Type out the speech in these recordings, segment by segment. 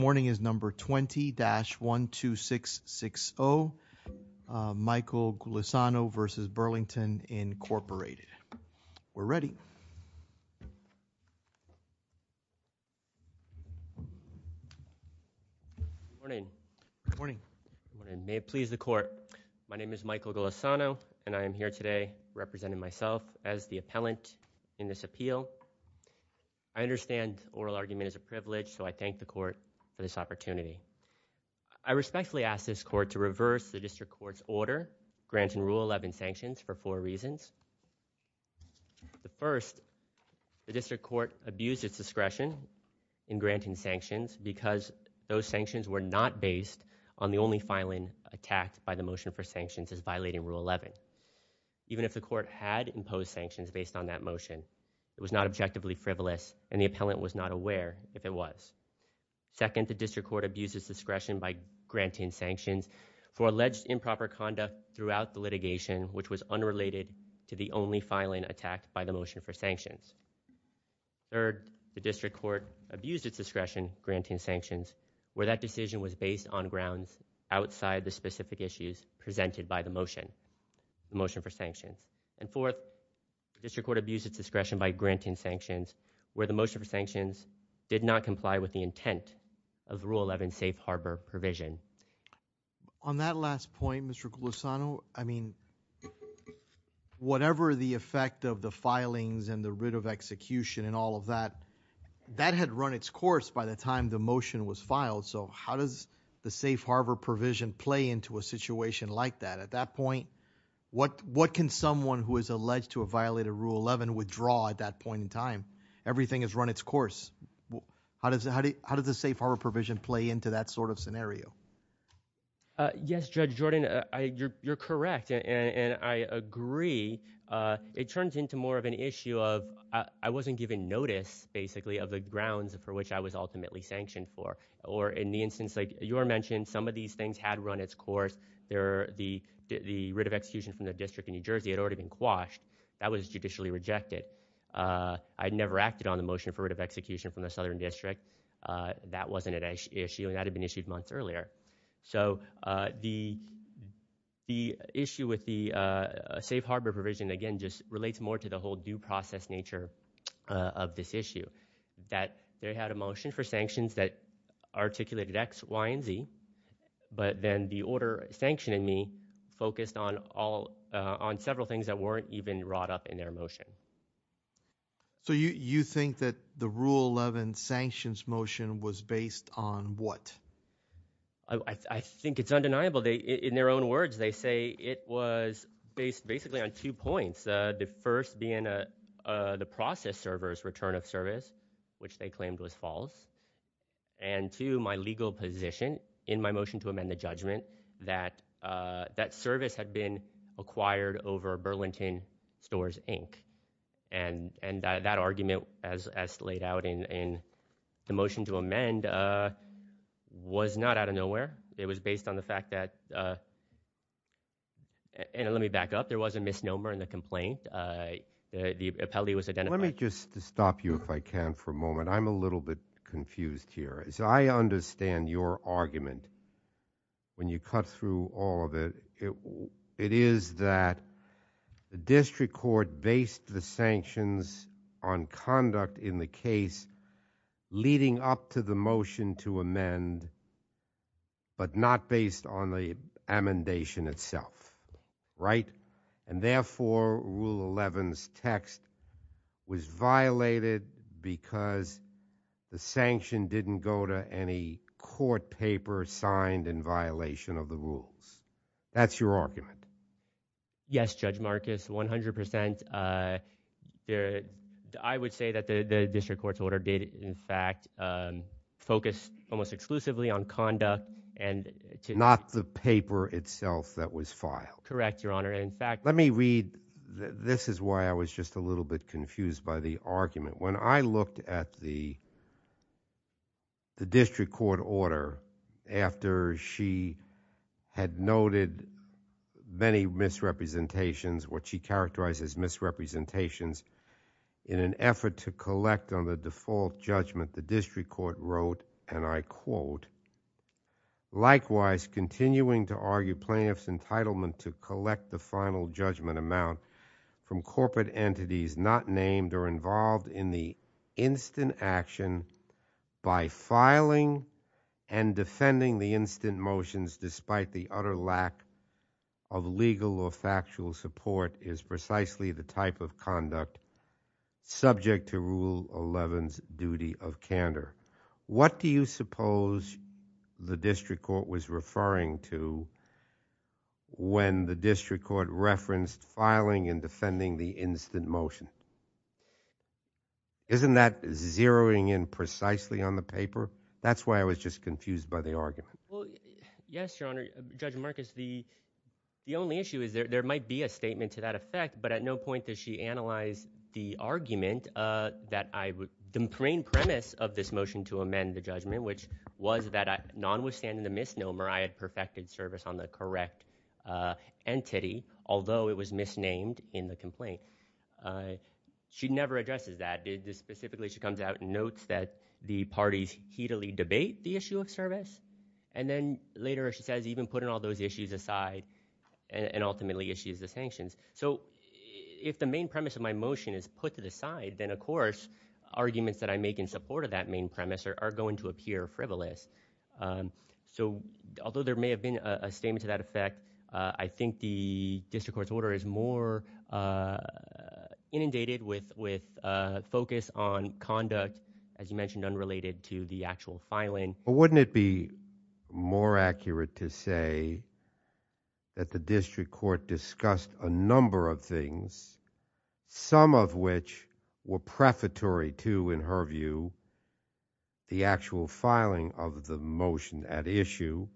Morning is number 20-12660, Michael Gulisano v. Burlington, Incorporated. We're ready. Morning. Morning. Morning, may it please the court. My name is Michael Gulisano, and I am here today representing myself as the appellant in this appeal. I understand oral argument is a privilege, so I thank the court for this opportunity. I respectfully ask this court to reverse the district court's order granting Rule 11 sanctions for four reasons. The first, the district court abused its discretion in granting sanctions because those sanctions were not based on the only filing attacked by the motion for sanctions as violating Rule 11. Even if the court had imposed sanctions based on that motion, it was not objectively frivolous, and the appellant was not aware if it was. Second, the district court abused its discretion by granting sanctions for alleged improper conduct throughout the litigation, which was unrelated to the only filing attacked by the motion for sanctions. Third, the district court abused its discretion granting sanctions, where that decision was based on grounds outside the specific issues presented by the motion, the motion for sanctions. And fourth, district court abused its discretion by granting sanctions, where the motion for sanctions did not comply with the intent of Rule 11 safe harbor provision. On that last point, Mr. Gulisano, I mean, whatever the effect of the filings and the writ of execution and all of that, that had run its course by the time the motion was filed. So how does the safe harbor provision play into a situation like that? At that point, what can someone who is alleged to have violated Rule 11 withdraw at that point in time? Everything has run its course. How does the safe harbor provision play into that sort of scenario? Yes, Judge Jordan, you're correct, and I agree. It turns into more of an issue of, I wasn't given notice, basically, of the grounds for which I was ultimately sanctioned for. Or in the instance like you mentioned, some of these things had run its course. The writ of execution from the district in New Jersey had already been quashed. That was judicially rejected. I'd never acted on the motion for writ of execution from the southern district. That wasn't an issue, and that had been issued months earlier. So the issue with the safe harbor provision, again, just relates more to the whole due process nature of this issue. That they had a motion for sanctions that articulated X, Y, and Z. But then the order sanctioning me focused on several things that weren't even wrought up in their motion. So you think that the Rule 11 sanctions motion was based on what? I think it's undeniable. In their own words, they say it was based basically on two points. The first being the process server's return of service, which they claimed was false. And two, my legal position in my motion to amend the judgment, that that service had been acquired over Burlington Stores, Inc. And that argument, as laid out in the motion to amend, was not out of nowhere. It was based on the fact that, and let me back up. There was a misnomer in the complaint, the appellee was identified- Let me just stop you if I can for a moment. I'm a little bit confused here. So I understand your argument when you cut through all of it. It is that the district court based the sanctions on conduct in the case, leading up to the motion to amend, but not based on the amendation itself, right? And therefore, Rule 11's text was violated because the sanction didn't go to any court paper signed in violation of the rules. That's your argument. Yes, Judge Marcus, 100%. I would say that the district court's order did in fact focus almost exclusively on conduct and- Not the paper itself that was filed. Correct, Your Honor. In fact- Let me read, this is why I was just a little bit confused by the argument. When I looked at the district court order after she had noted many misrepresentations, what she characterized as misrepresentations, in an effort to collect on the default judgment, the district court wrote, and I quote, likewise continuing to argue plaintiff's entitlement to collect the final judgment amount from corporate entities not named or involved in the instant action by filing and defending the instant motions despite the utter lack of legal or factual support is precisely the type of conduct subject to Rule 11's duty of candor. What do you suppose the district court was referring to when the district court referenced filing and defending the instant motion? Isn't that zeroing in precisely on the paper? That's why I was just confused by the argument. Well, yes, Your Honor. Judge Marcus, the only issue is there might be a statement to that effect, but at no point does she analyze the argument that I would- The main premise of this motion to amend the judgment, which was that nonwithstanding the misnomer, I had perfected service on the correct entity, although it was misnamed in the complaint. She never addresses that. Specifically, she comes out and notes that the parties heatily debate the issue of service, and then later, as she says, even putting all those issues aside and ultimately issues the sanctions. So if the main premise of my motion is put to the side, then, of course, arguments that I make in support of that main premise are going to appear frivolous. So although there may have been a statement to that effect, I think the district court's order is more inundated with focus on conduct, as you mentioned, unrelated to the actual filing. Wouldn't it be more accurate to say that the district court discussed a number of things, some of which were prefatory to, in her view, the actual filing of the motion at issue,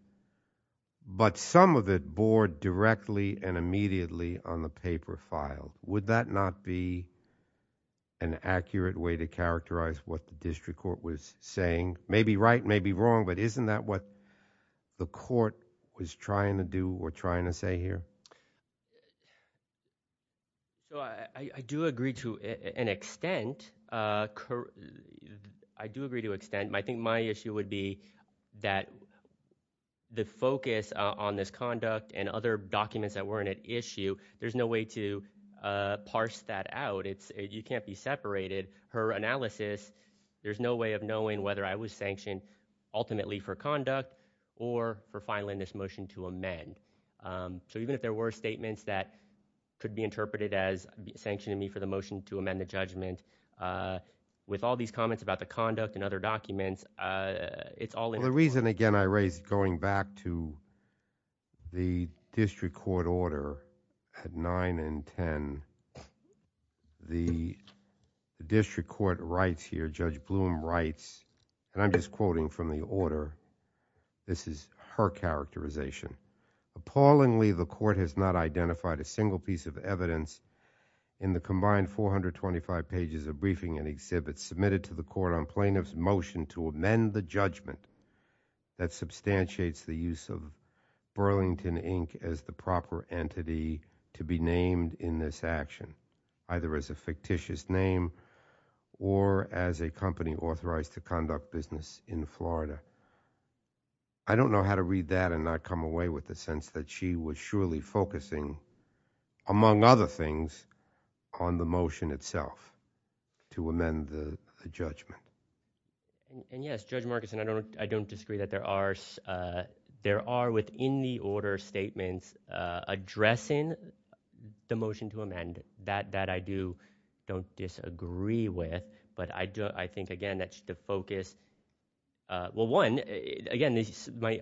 but some of it bore directly and immediately on the paper file? Would that not be an accurate way to characterize what the district court was saying? It may be right, it may be wrong, but isn't that what the court was trying to do or trying to say here? So I do agree to an extent. I do agree to extent. I think my issue would be that the focus on this conduct and other documents that weren't at issue, there's no way to parse that out. You can't be separated. Her analysis, there's no way of knowing whether I was sanctioned ultimately for conduct or for filing this motion to amend. So even if there were statements that could be interpreted as sanctioning me for the motion to amend the judgment, with all these comments about the conduct and other documents, it's all in the court. The reason, again, I raised going back to the district court order at 9 and 10, the district court writes here, Judge Blum writes, and I'm just quoting from the order. This is her characterization. Appallingly, the court has not identified a single piece of evidence in the combined 425 pages of briefing and exhibits submitted to the court on plaintiff's motion to amend the judgment that substantiates the use of Burlington Inc. as the proper entity to be named in this action, either as a fictitious name or as a company authorized to conduct business in Florida. I don't know how to read that and not come away with the sense that she was surely focusing, among other things, on the motion itself to amend the judgment. And yes, Judge Marcus, and I don't disagree that there are within the order statements addressing the motion to amend. That I do don't disagree with, but I think, again, that's the focus. Well, one, again,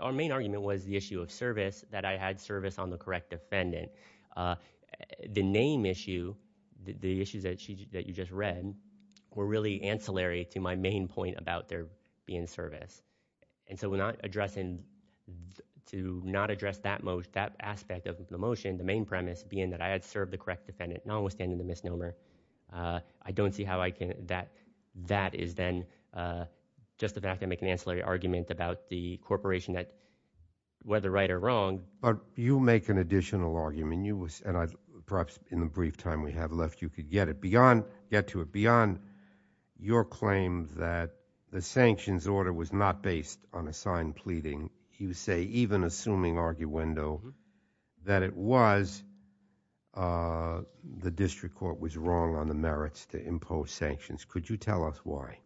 our main argument was the issue of service that I had service on the correct defendant. The name issue, the issues that you just read, were really ancillary to my main point about there being service. And so we're not addressing, to not address that aspect of the motion, the main premise being that I had served the correct defendant, notwithstanding the misnomer. I don't see how I can, that that is then, just the fact I make an ancillary argument about the corporation that, whether right or wrong. But you make an additional argument. You was, and I, perhaps in the brief time we have left, you could get it beyond, get to it beyond your claim that the sanctions order was not based on assigned pleading. You say, even assuming arguendo, that it was, the district court was wrong on the merits to impose sanctions. Could you tell us why?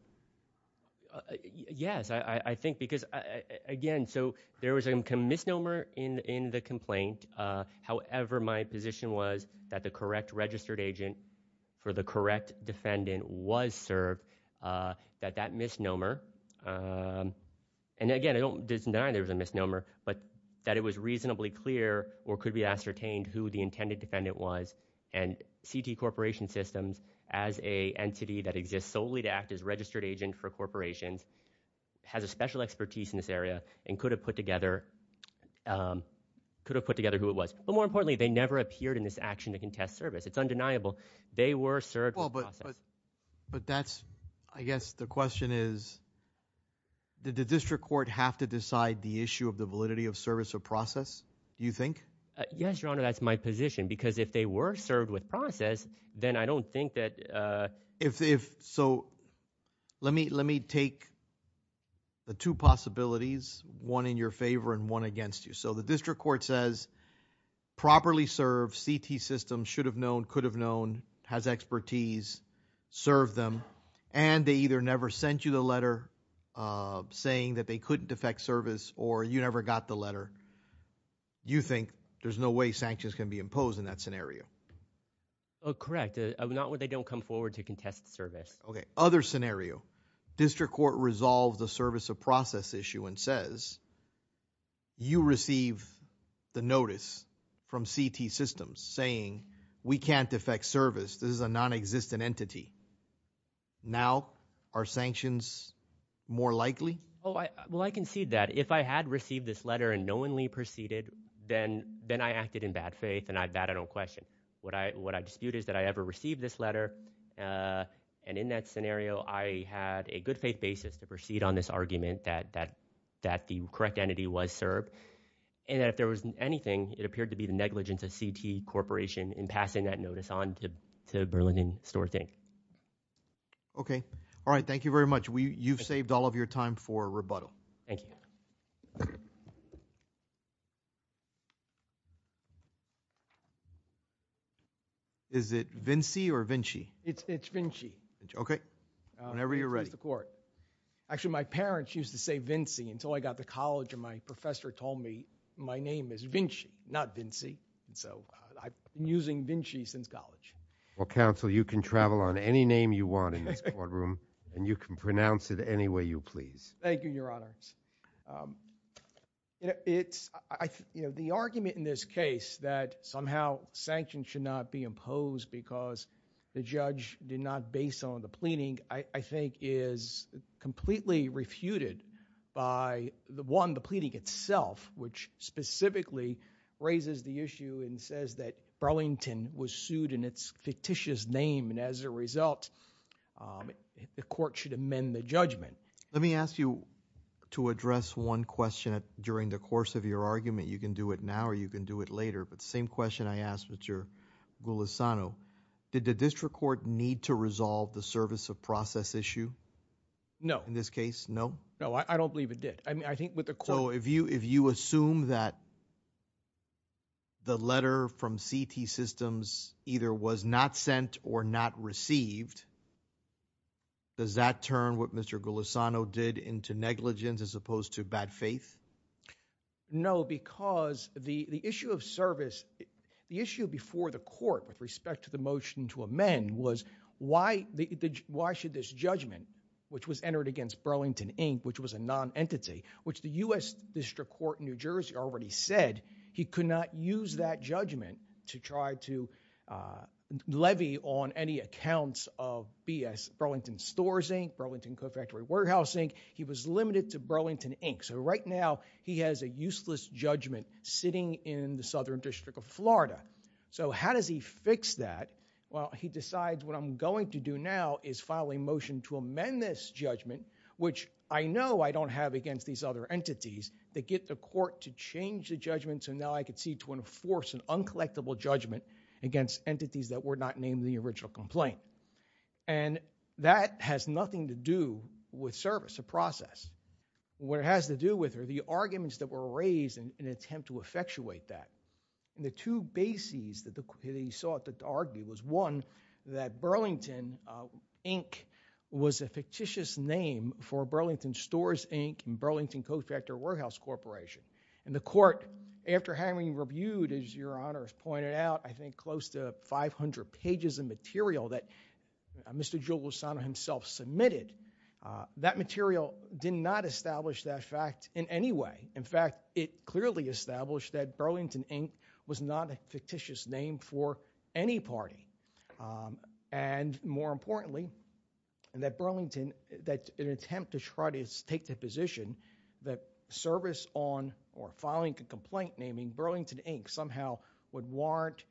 Yes, I think because, again, so there was a misnomer in the complaint. However, my position was that the correct registered agent for the correct defendant was served, that that misnomer, and again, I don't deny there was a misnomer, but that it was reasonably clear or could be ascertained who the intended defendant was. And CT Corporation Systems, as a entity that exists solely to act as registered agent for corporations, has a special expertise in this area and could have put together, could have put together who it was. But more importantly, they never appeared in this action to contest service. It's undeniable. They were served with process. But that's, I guess the question is, did the district court have to decide the issue of the validity of service or process, do you think? Yes, your honor, that's my position. Because if they were served with process, then I don't think that. If so, let me, let me take the two possibilities, one in your favor and one against you. So the district court says properly served, CT Systems should have known, could have known, has expertise, serve them, and they either never sent you the letter saying that they couldn't defect service or you never got the letter. You think there's no way sanctions can be imposed in that scenario? Oh, correct. Not what they don't come forward to contest service. Okay, other scenario. District court resolves the service of process issue and says, you receive the notice from CT Systems saying, we can't defect service, this is a non-existent entity. Now, are sanctions more likely? Oh, I, well, I concede that. If I had received this letter and knowingly proceeded, then, then I acted in bad faith and I, that I don't question. What I, what I dispute is that I ever received this letter, and in that scenario, I had a good faith basis to proceed on this argument that, that, that the correct entity was served. And if there was anything, it appeared to be the negligence of CT Corporation in passing that notice on to, to Berlin and Storthing. Okay. All right. Thank you very much. We, you've saved all of your time for rebuttal. Thank you. Is it Vinci or Vinci? It's, it's Vinci. Whenever you're ready. Here's the court. Actually, my parents used to say Vinci until I got to college and my professor told me my name is Vinci, not Vinci. And so I've been using Vinci since college. Well, counsel, you can travel on any name you want in this courtroom and you can pronounce it any way you please. Thank you, Your Honor. You know, it's, I, you know, the argument in this case that somehow sanctions should not be imposed because the judge did not base on the pleading, I, I think is completely refuted by the one, the pleading itself, which specifically raises the issue and says that Burlington was sued in its fictitious name. Let me ask you to address one question during the course of your argument. You can do it now or you can do it later. But same question I asked with your Golisano. Did the district court need to resolve the service of process issue? No. In this case? No. No, I don't believe it did. I mean, I think with the court. So if you, if you assume that the letter from CT systems either was not sent or not received, does that turn what Mr. Golisano did into negligence as opposed to bad faith? No, because the, the issue of service, the issue before the court with respect to the motion to amend was why the, why should this judgment, which was entered against Burlington Inc., which was a non-entity, which the U.S. district court in New Jersey already said, he could not use that judgment to try to levy on any accounts of BS Burlington Stores Inc., Burlington Co-Factory Warehouse Inc. He was limited to Burlington Inc. So right now he has a useless judgment sitting in the Southern District of Florida. So how does he fix that? Well, he decides what I'm going to do now is file a motion to amend this judgment, which I know I don't have against these other entities that get the court to change the judgment. So now I could see to enforce an uncollectible judgment against entities that were not named the original complaint. And that has nothing to do with service, a process. What it has to do with are the arguments that were raised in an attempt to effectuate that. And the two bases that he sought to argue was one, that Burlington Inc. was a fictitious name for Burlington Stores Inc. and Burlington Co-Factory Warehouse Corporation. And the court, after having reviewed, as Your Honor has pointed out, I think close to 500 pages of material that Mr. Jules Lozano himself submitted, that material did not establish that fact in any way. In fact, it clearly established that Burlington Inc. was not a fictitious name for any party. And more importantly, that Burlington, that in an attempt to try to take the position that service on or filing a complaint naming Burlington Inc. somehow would warrant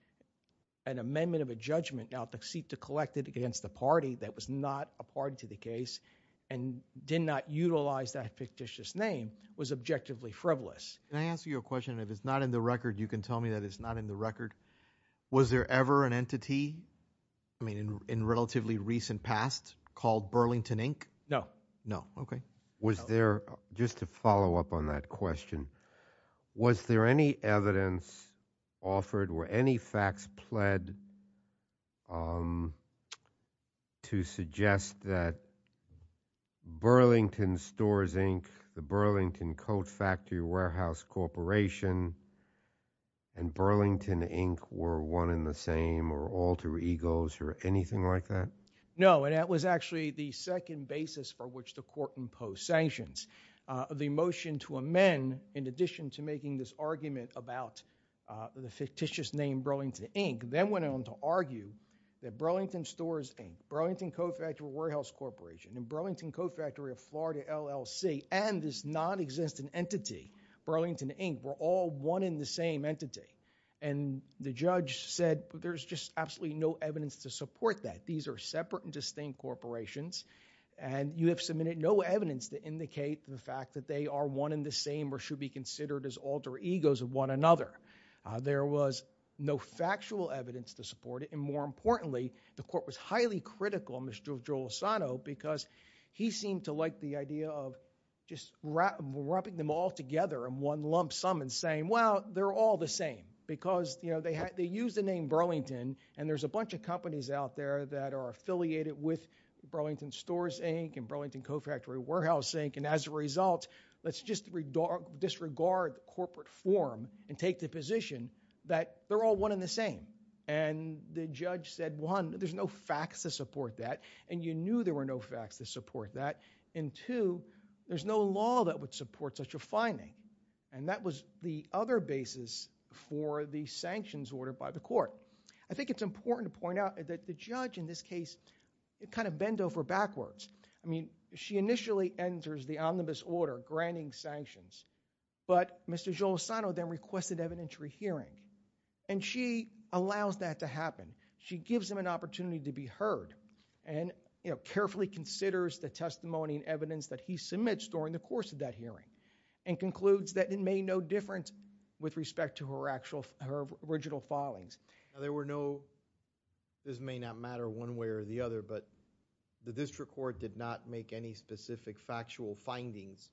an amendment of a judgment now to seek to collect it against the party that was not a party to the case and did not utilize that fictitious name, was objectively frivolous. Can I ask you a question? If it's not in the record, you can tell me that it's not in the record. Was there ever an entity, I mean in relatively recent past, called Burlington Inc.? No. No. Okay. Was there, just to follow up on that question, was there any evidence offered, were any facts pled to suggest that Burlington Stores Inc., the Burlington Co-Factory Warehouse Corporation, and Burlington Inc. were one in the same or alter egos or anything like that? No. And that was actually the second basis for which the court imposed sanctions. The motion to amend, in addition to making this argument about the fictitious name Burlington Inc., then went on to argue that Burlington Stores Inc., Burlington Co-Factory Warehouse Corporation, and Burlington Co-Factory of Florida LLC, and this non-existent entity, Burlington Inc., were all one in the same entity. And the judge said, there's just absolutely no evidence to support that. These are separate and distinct corporations, and you have submitted no evidence to indicate the fact that they are one in the same or should be considered as alter egos of one another. There was no factual evidence to support it, and more importantly, the court was highly critical of Mr. Joel Asano because he seemed to like the idea of just wrapping them all together in one lump sum and saying, well, they're all the same. Because they used the name Burlington, and there's a bunch of companies out there that are affiliated with Burlington Stores Inc., and Burlington Co-Factory Warehouse Inc., and as a result, let's just disregard corporate form and take the position that they're all one in the same. And the judge said, one, there's no facts to support that, and you knew there were no facts to support that. And two, there's no law that would support such a finding. And that was the other basis for the sanctions order by the court. I think it's important to point out that the judge in this case, it kind of bent over backwards. I mean, she initially enters the omnibus order granting sanctions, but Mr. Joel Asano then requested evidentiary hearing, and she allows that to happen. She gives him an opportunity to be heard, and carefully considers the testimony and evidence that he submits during the course of that hearing, and concludes that it made no difference with respect to her original filings. Now, there were no, this may not matter one way or the other, but the district court did not make any specific factual findings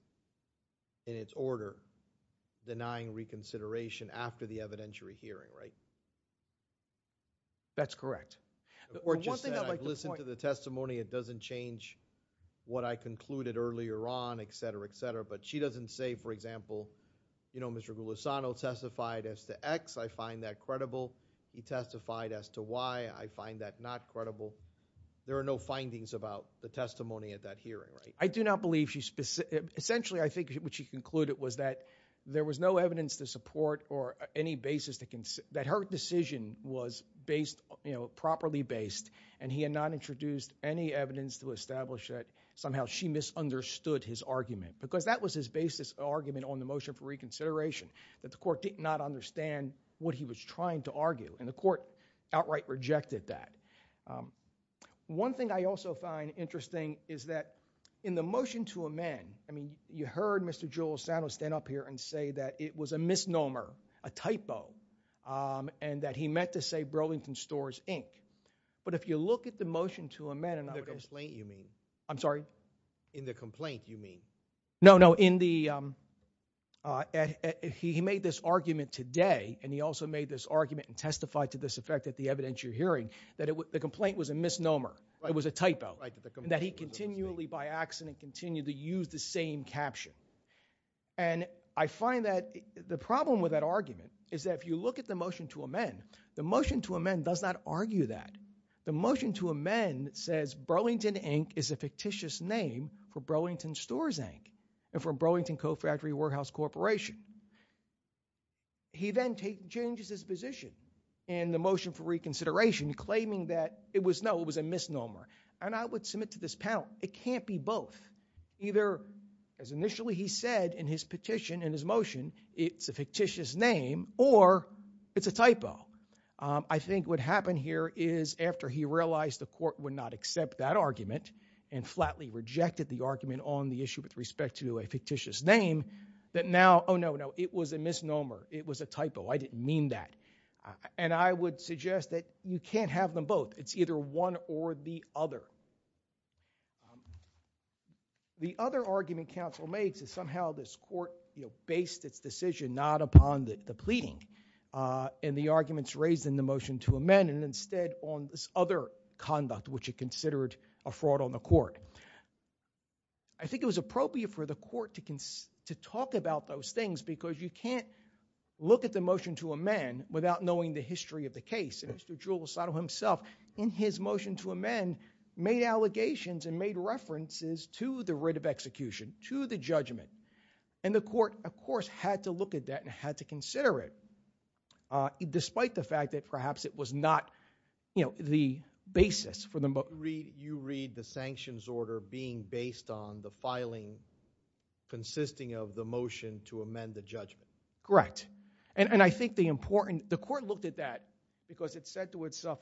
in its order denying reconsideration after the evidentiary hearing, right? That's correct. The court just said, I've listened to the testimony. It doesn't change what I concluded earlier on, et cetera, et cetera. But she doesn't say, for example, you know, Mr. Golisano testified as to X, I find that credible. He testified as to Y, I find that not credible. There are no findings about the testimony at that hearing, right? I do not believe she, essentially, I think what she concluded was that there was no evidence to support or any basis that her decision was based, you know, properly based, and he had not introduced any evidence to establish that somehow she misunderstood his argument, because that was his basis argument on the motion for reconsideration, that the court did not understand what he was trying to argue, and the court outright rejected that. One thing I also find interesting is that in the motion to amend, I mean, you heard Mr. Golisano stand up here and say that it was a misnomer, a typo, and that he meant to say Brodington Stores, Inc. But if you look at the motion to amend, and I would In the complaint, you mean? I'm sorry? In the complaint, you mean? No, no, in the, he made this argument today, and he also made this argument and testified to this effect at the evidentiary hearing, that the complaint was a misnomer, it was a typo, and that he continually, by accident, continued to use the same caption. And I find that the problem with that argument is that if you look at the motion to amend, the motion to amend does not argue that. The motion to amend says Brodington, Inc. is a fictitious name for Brodington Stores, Inc., and for Brodington Cofactory Workhouse Corporation. He then changes his position in the motion for reconsideration, claiming that it was no, it was a misnomer, and I would submit to this panel, it can't be both. Either, as initially he said in his petition, in his motion, it's a fictitious name, or it's a typo. I think what happened here is, after he realized the court would not accept that argument, and flatly rejected the argument on the issue with respect to a fictitious name, that now, oh no, no, it was a misnomer, it was a typo, I didn't mean that. And I would suggest that you can't have them both. It's either one or the other. The other argument counsel makes is somehow this court, you know, based its decision not upon the pleading, and the arguments raised in the motion to amend, and instead on this other conduct, which it considered a fraud on the court. I think it was appropriate for the court to talk about those things, because you can't look at the motion to amend without knowing the history of the case. And Mr. Giulisano himself, in his motion to amend, made allegations and made references to the writ of execution, to the judgment, and the court, of course, had to look at that and had to consider it, despite the fact that perhaps it was not, you know, the basis for the motion. You read the sanctions order being based on the filing consisting of the motion to amend the judgment. Correct. And I think the important, the court looked at that because it said to itself,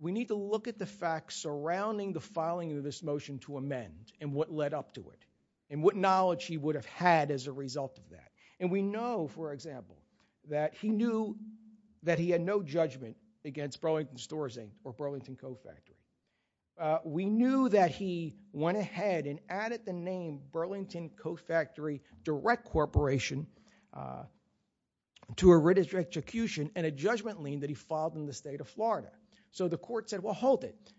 we need to look at the facts surrounding the filing of this motion to amend, and what led up to it, and what knowledge he would have had as a result of that. And we know, for example, that he knew that he had no judgment against Burlington Stores Inc. or Burlington Co. Factory. We knew that he went ahead and added the name Burlington Co. Factory Direct Corporation to a writ of execution and a judgment lien that he filed in the state of Florida. So the court said, well, hold it.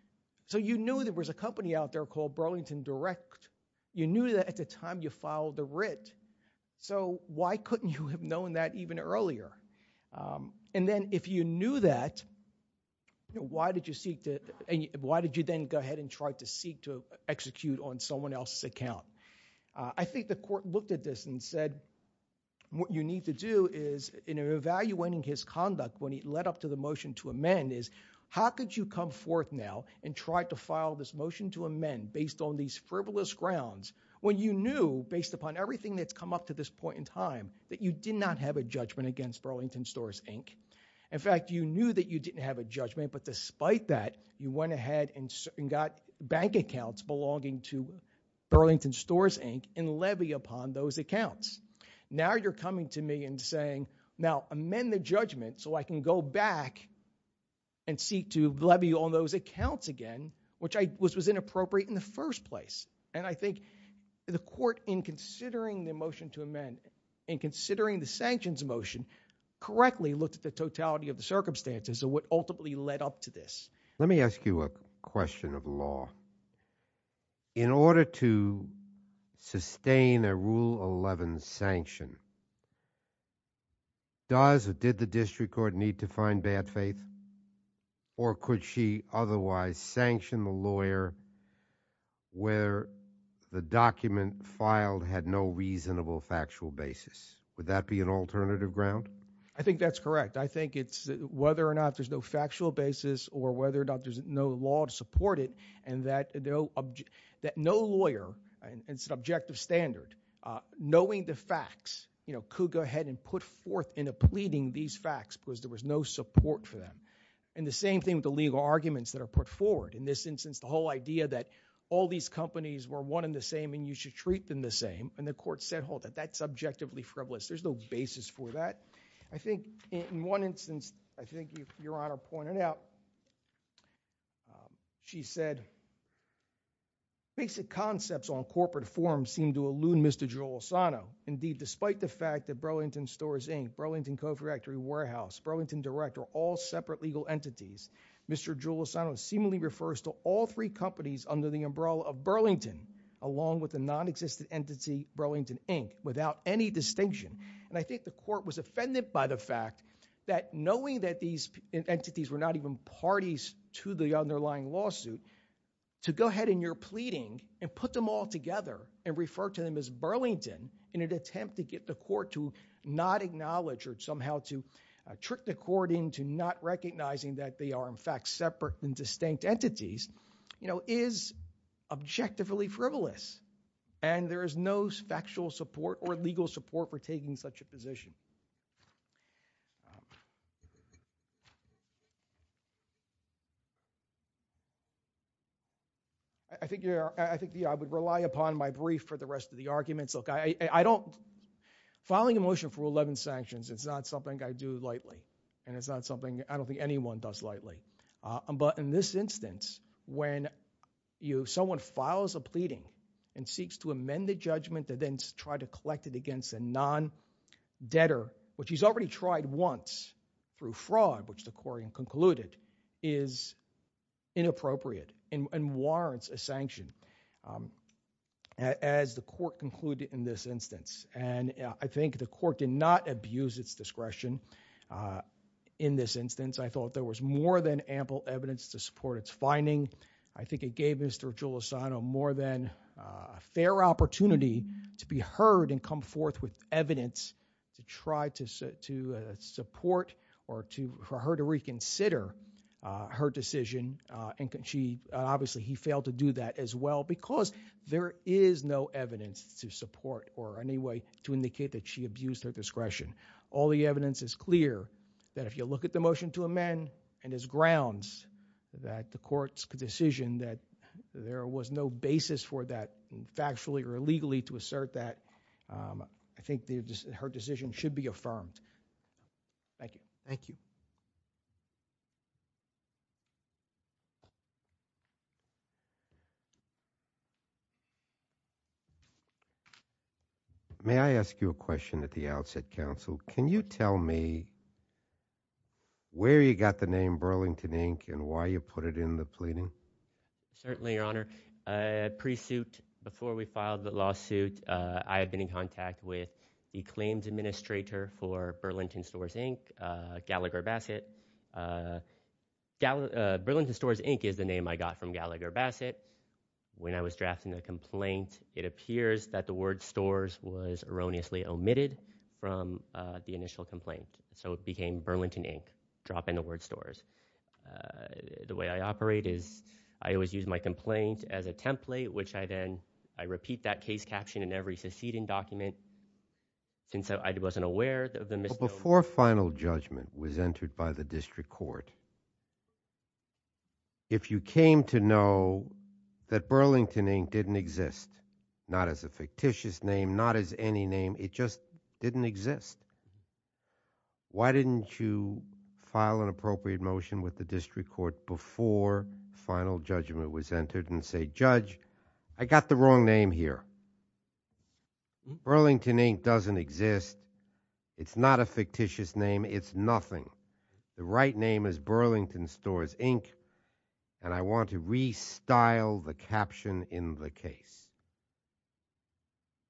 So you knew there was a company out there called Burlington Direct. You knew that at the time you filed the writ. So why couldn't you have known that even earlier? And then if you knew that, why did you seek to, why did you then go ahead and try to seek to execute on someone else's account? I think the court looked at this and said, what you need to do is, in evaluating his How could you come forth now and try to file this motion to amend based on these frivolous grounds when you knew, based upon everything that's come up to this point in time, that you did not have a judgment against Burlington Stores Inc.? In fact, you knew that you didn't have a judgment, but despite that, you went ahead and got bank accounts belonging to Burlington Stores Inc. and levy upon those accounts. Now you're coming to me and saying, now amend the judgment so I can go back and seek to levy on those accounts again, which was inappropriate in the first place. And I think the court, in considering the motion to amend, in considering the sanctions motion, correctly looked at the totality of the circumstances of what ultimately led up to this. Let me ask you a question of law. In order to sustain a Rule 11 sanction, does or did the district court need to find bad faith? Or could she otherwise sanction the lawyer where the document filed had no reasonable factual basis? Would that be an alternative ground? I think that's correct. I think it's whether or not there's no factual basis or whether or not there's no law to could go ahead and put forth in a pleading these facts because there was no support for them. And the same thing with the legal arguments that are put forward. In this instance, the whole idea that all these companies were one and the same, and you should treat them the same. And the court said, hold it, that's objectively frivolous. There's no basis for that. I think in one instance, I think Your Honor pointed out, she said, basic concepts on corporate forums seem to elude Mr. Joel Asano. Indeed, despite the fact that Burlington Stores Inc., Burlington Cofactory Warehouse, Burlington Direct are all separate legal entities. Mr. Joel Asano seemingly refers to all three companies under the umbrella of Burlington, along with the non-existent entity Burlington Inc., without any distinction. And I think the court was offended by the fact that knowing that these entities were not even parties to the underlying lawsuit, to go ahead in your pleading and put them all together and refer to them as Burlington in an attempt to get the court to not acknowledge or somehow to trick the court into not recognizing that they are, in fact, separate and distinct entities, is objectively frivolous. And there is no factual support or legal support for taking such a position. I think, Your Honor, I think I would rely upon my brief for the rest of the arguments. Look, I don't, filing a motion for Rule 11 sanctions, it's not something I do lightly, and it's not something I don't think anyone does lightly. But in this instance, when someone files a pleading and seeks to amend the judgment and try to collect it against a non-debtor, which he's already tried once through fraud, which the court concluded is inappropriate and warrants a sanction, as the court concluded in this instance. And I think the court did not abuse its discretion in this instance. I thought there was more than ample evidence to support its finding. I think it gave Mr. Julisano more than a fair opportunity to be heard and come forth with evidence to try to support or for her to reconsider her decision. Obviously, he failed to do that as well because there is no evidence to support or any way to indicate that she abused her discretion. All the evidence is clear that if you look at the motion to amend and his grounds that the court's decision that there was no basis for that factually or illegally to assert that, I think her decision should be affirmed. Thank you. Thank you. May I ask you a question at the outset, counsel? Can you tell me where you got the name Burlington, Inc., and why you put it in the pleading? Certainly, Your Honor. Pre-suit, before we filed the lawsuit, I had been in contact with the claims administrator for Burlington Stores, Inc., Gallagher Bassett. Burlington Stores, Inc. is the name I got from Gallagher Bassett. When I was drafting the complaint, it appears that the word stores was erroneously omitted from the initial complaint, so it became Burlington, Inc., dropping the word stores. The way I operate is I always use my complaint as a template, which I then, I repeat that case caption in every succeeding document since I wasn't aware of the misnomer. Before final judgment was entered by the district court, if you came to know that Burlington, Inc. didn't exist, not as a fictitious name, not as any name, it just didn't exist, why didn't you file an appropriate motion with the district court before final judgment was entered and say, Judge, I got the wrong name here. Burlington, Inc. doesn't exist. It's not a fictitious name. It's nothing. The right name is Burlington Stores, Inc., and I want to restyle the caption in the case.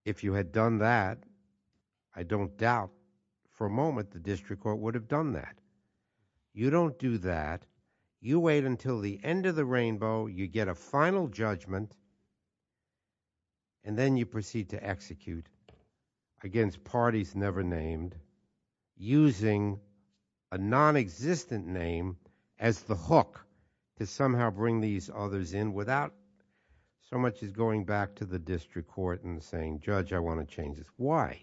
If you had done that, I don't doubt for a moment the district court would have done that. You don't do that. You wait until the end of the rainbow. You get a final judgment, and then you proceed to execute against parties never named, using a non-existent name as the hook to somehow bring these others in without so much as going back to the district court and saying, Judge, I want to change this. Why?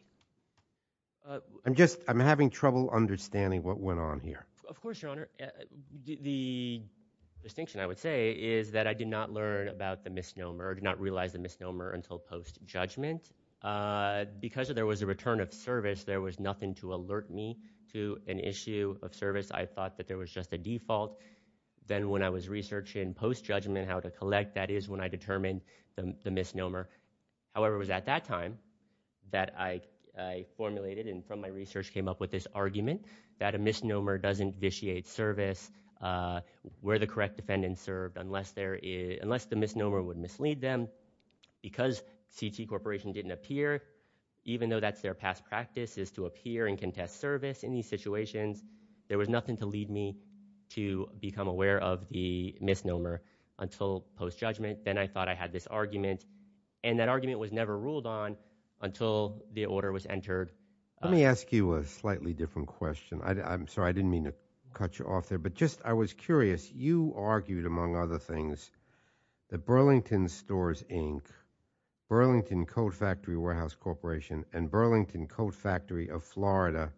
I'm just, I'm having trouble understanding what went on here. Of course, Your Honor. The distinction, I would say, is that I did not learn about the misnomer, did not realize the misnomer until post-judgment. Because there was a return of service, there was nothing to alert me to an issue of service. I thought that there was just a default. Then when I was researching post-judgment how to collect, that is when I determined the misnomer. However, it was at that time that I formulated and from my research came up with this argument that a misnomer doesn't vitiate service where the correct defendant served unless the misnomer would mislead them. Because CT Corporation didn't appear, even though that's their past practice, is to appear and contest service in these situations, there was nothing to lead me to become aware of the misnomer until post-judgment. Then I thought I had this argument, and that argument was never ruled on until the order was entered. Let me ask you a slightly different question. I'm sorry, I didn't mean to cut you off there. But just, I was curious, you argued, among other things, that Burlington Stores, Inc., Burlington Coat Factory Warehouse Corporation, and Burlington Coat Factory of Florida,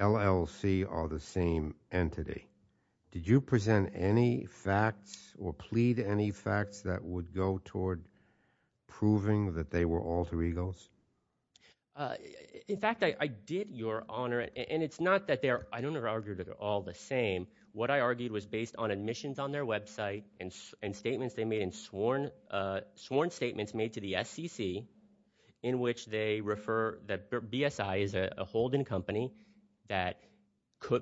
LLC, are the same entity. Did you present any facts or plead any facts that would go toward proving that they were alter egos? In fact, I did, Your Honor, and it's not that they're, I don't argue that they're all the same. What I argued was based on admissions on their website and statements they made and sworn statements made to the SCC in which they refer that BSI is a holding company that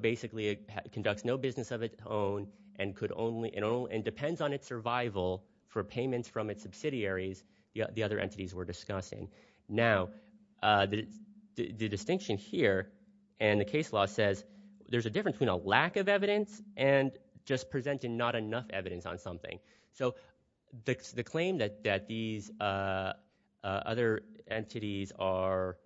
basically conducts no business of its own and could only, and depends on its survival for payments from its subsidiaries, the other entities we're discussing. Now, the distinction here in the case law says there's a difference between a lack of evidence and just presenting not enough evidence on something. So, the claim that these other entities are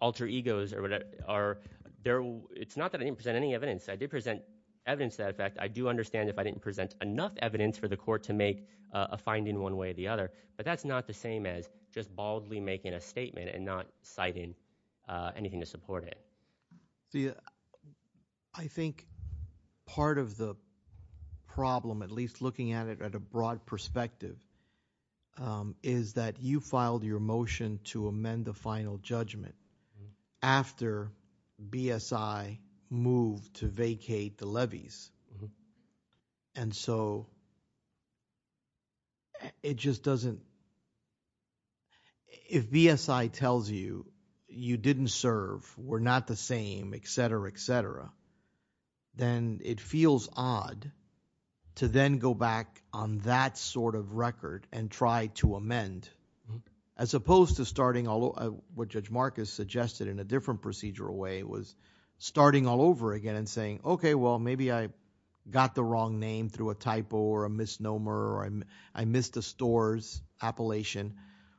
alter egos, it's not that I didn't present any evidence. I did present evidence that, in fact, I do understand if I didn't present enough evidence for the court to make a finding one way or the other. But that's not the same as just baldly making a statement and not citing anything to support it. See, I think part of the problem, at least looking at it at a broad perspective, is that you filed your motion to amend the final judgment after BSI moved to vacate the levies. And so, it just doesn't, if BSI tells you you didn't serve, we're not the same, et cetera, et cetera, then it feels odd to then go back on that sort of record and try to amend, as opposed to starting, what Judge Marcus suggested in a different procedural way, was starting all over again and saying, okay, well, maybe I got the wrong name through a typo or a misnomer, or I missed a store's appellation.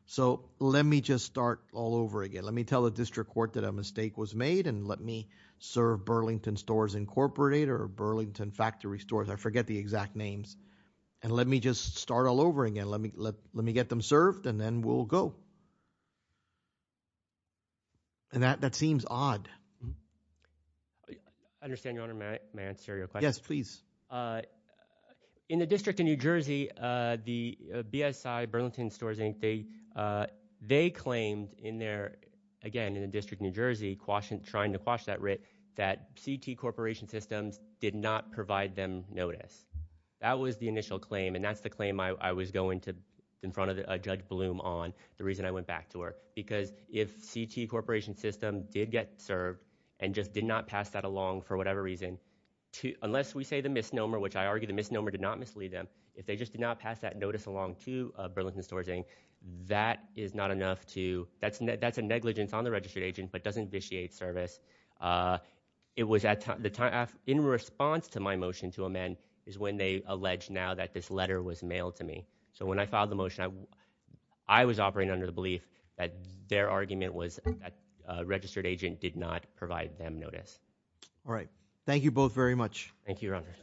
So, let me just start all over again. Let me tell the district court that a mistake was made and let me serve Burlington Stores Incorporated or Burlington Factory Stores. I forget the exact names. And let me just start all over again. Let me get them served and then we'll go. And that seems odd. I understand, Your Honor, may I answer your question? Yes, please. In the District of New Jersey, the BSI, Burlington Stores Inc., they claimed in their, again, in the District of New Jersey, trying to quash that writ, that CT Corporation Systems did not provide them notice. That was the initial claim. And that's the claim I was going to, in front of Judge Bloom on, the reason I went back to her. Because if CT Corporation Systems did get served and just did not pass that along for whatever reason, unless we say the misnomer, which I argue the misnomer did not mislead them, if they just did not pass that notice along to Burlington Stores Inc., that is not enough to, that's a negligence on the registered agent, but doesn't vitiate service. In response to my motion to amend is when they allege now that this letter was mailed to me. So when I filed the motion, I was operating under the belief that their argument was that a registered agent did not provide them notice. All right. Thank you both very much. Thank you, Your Honor.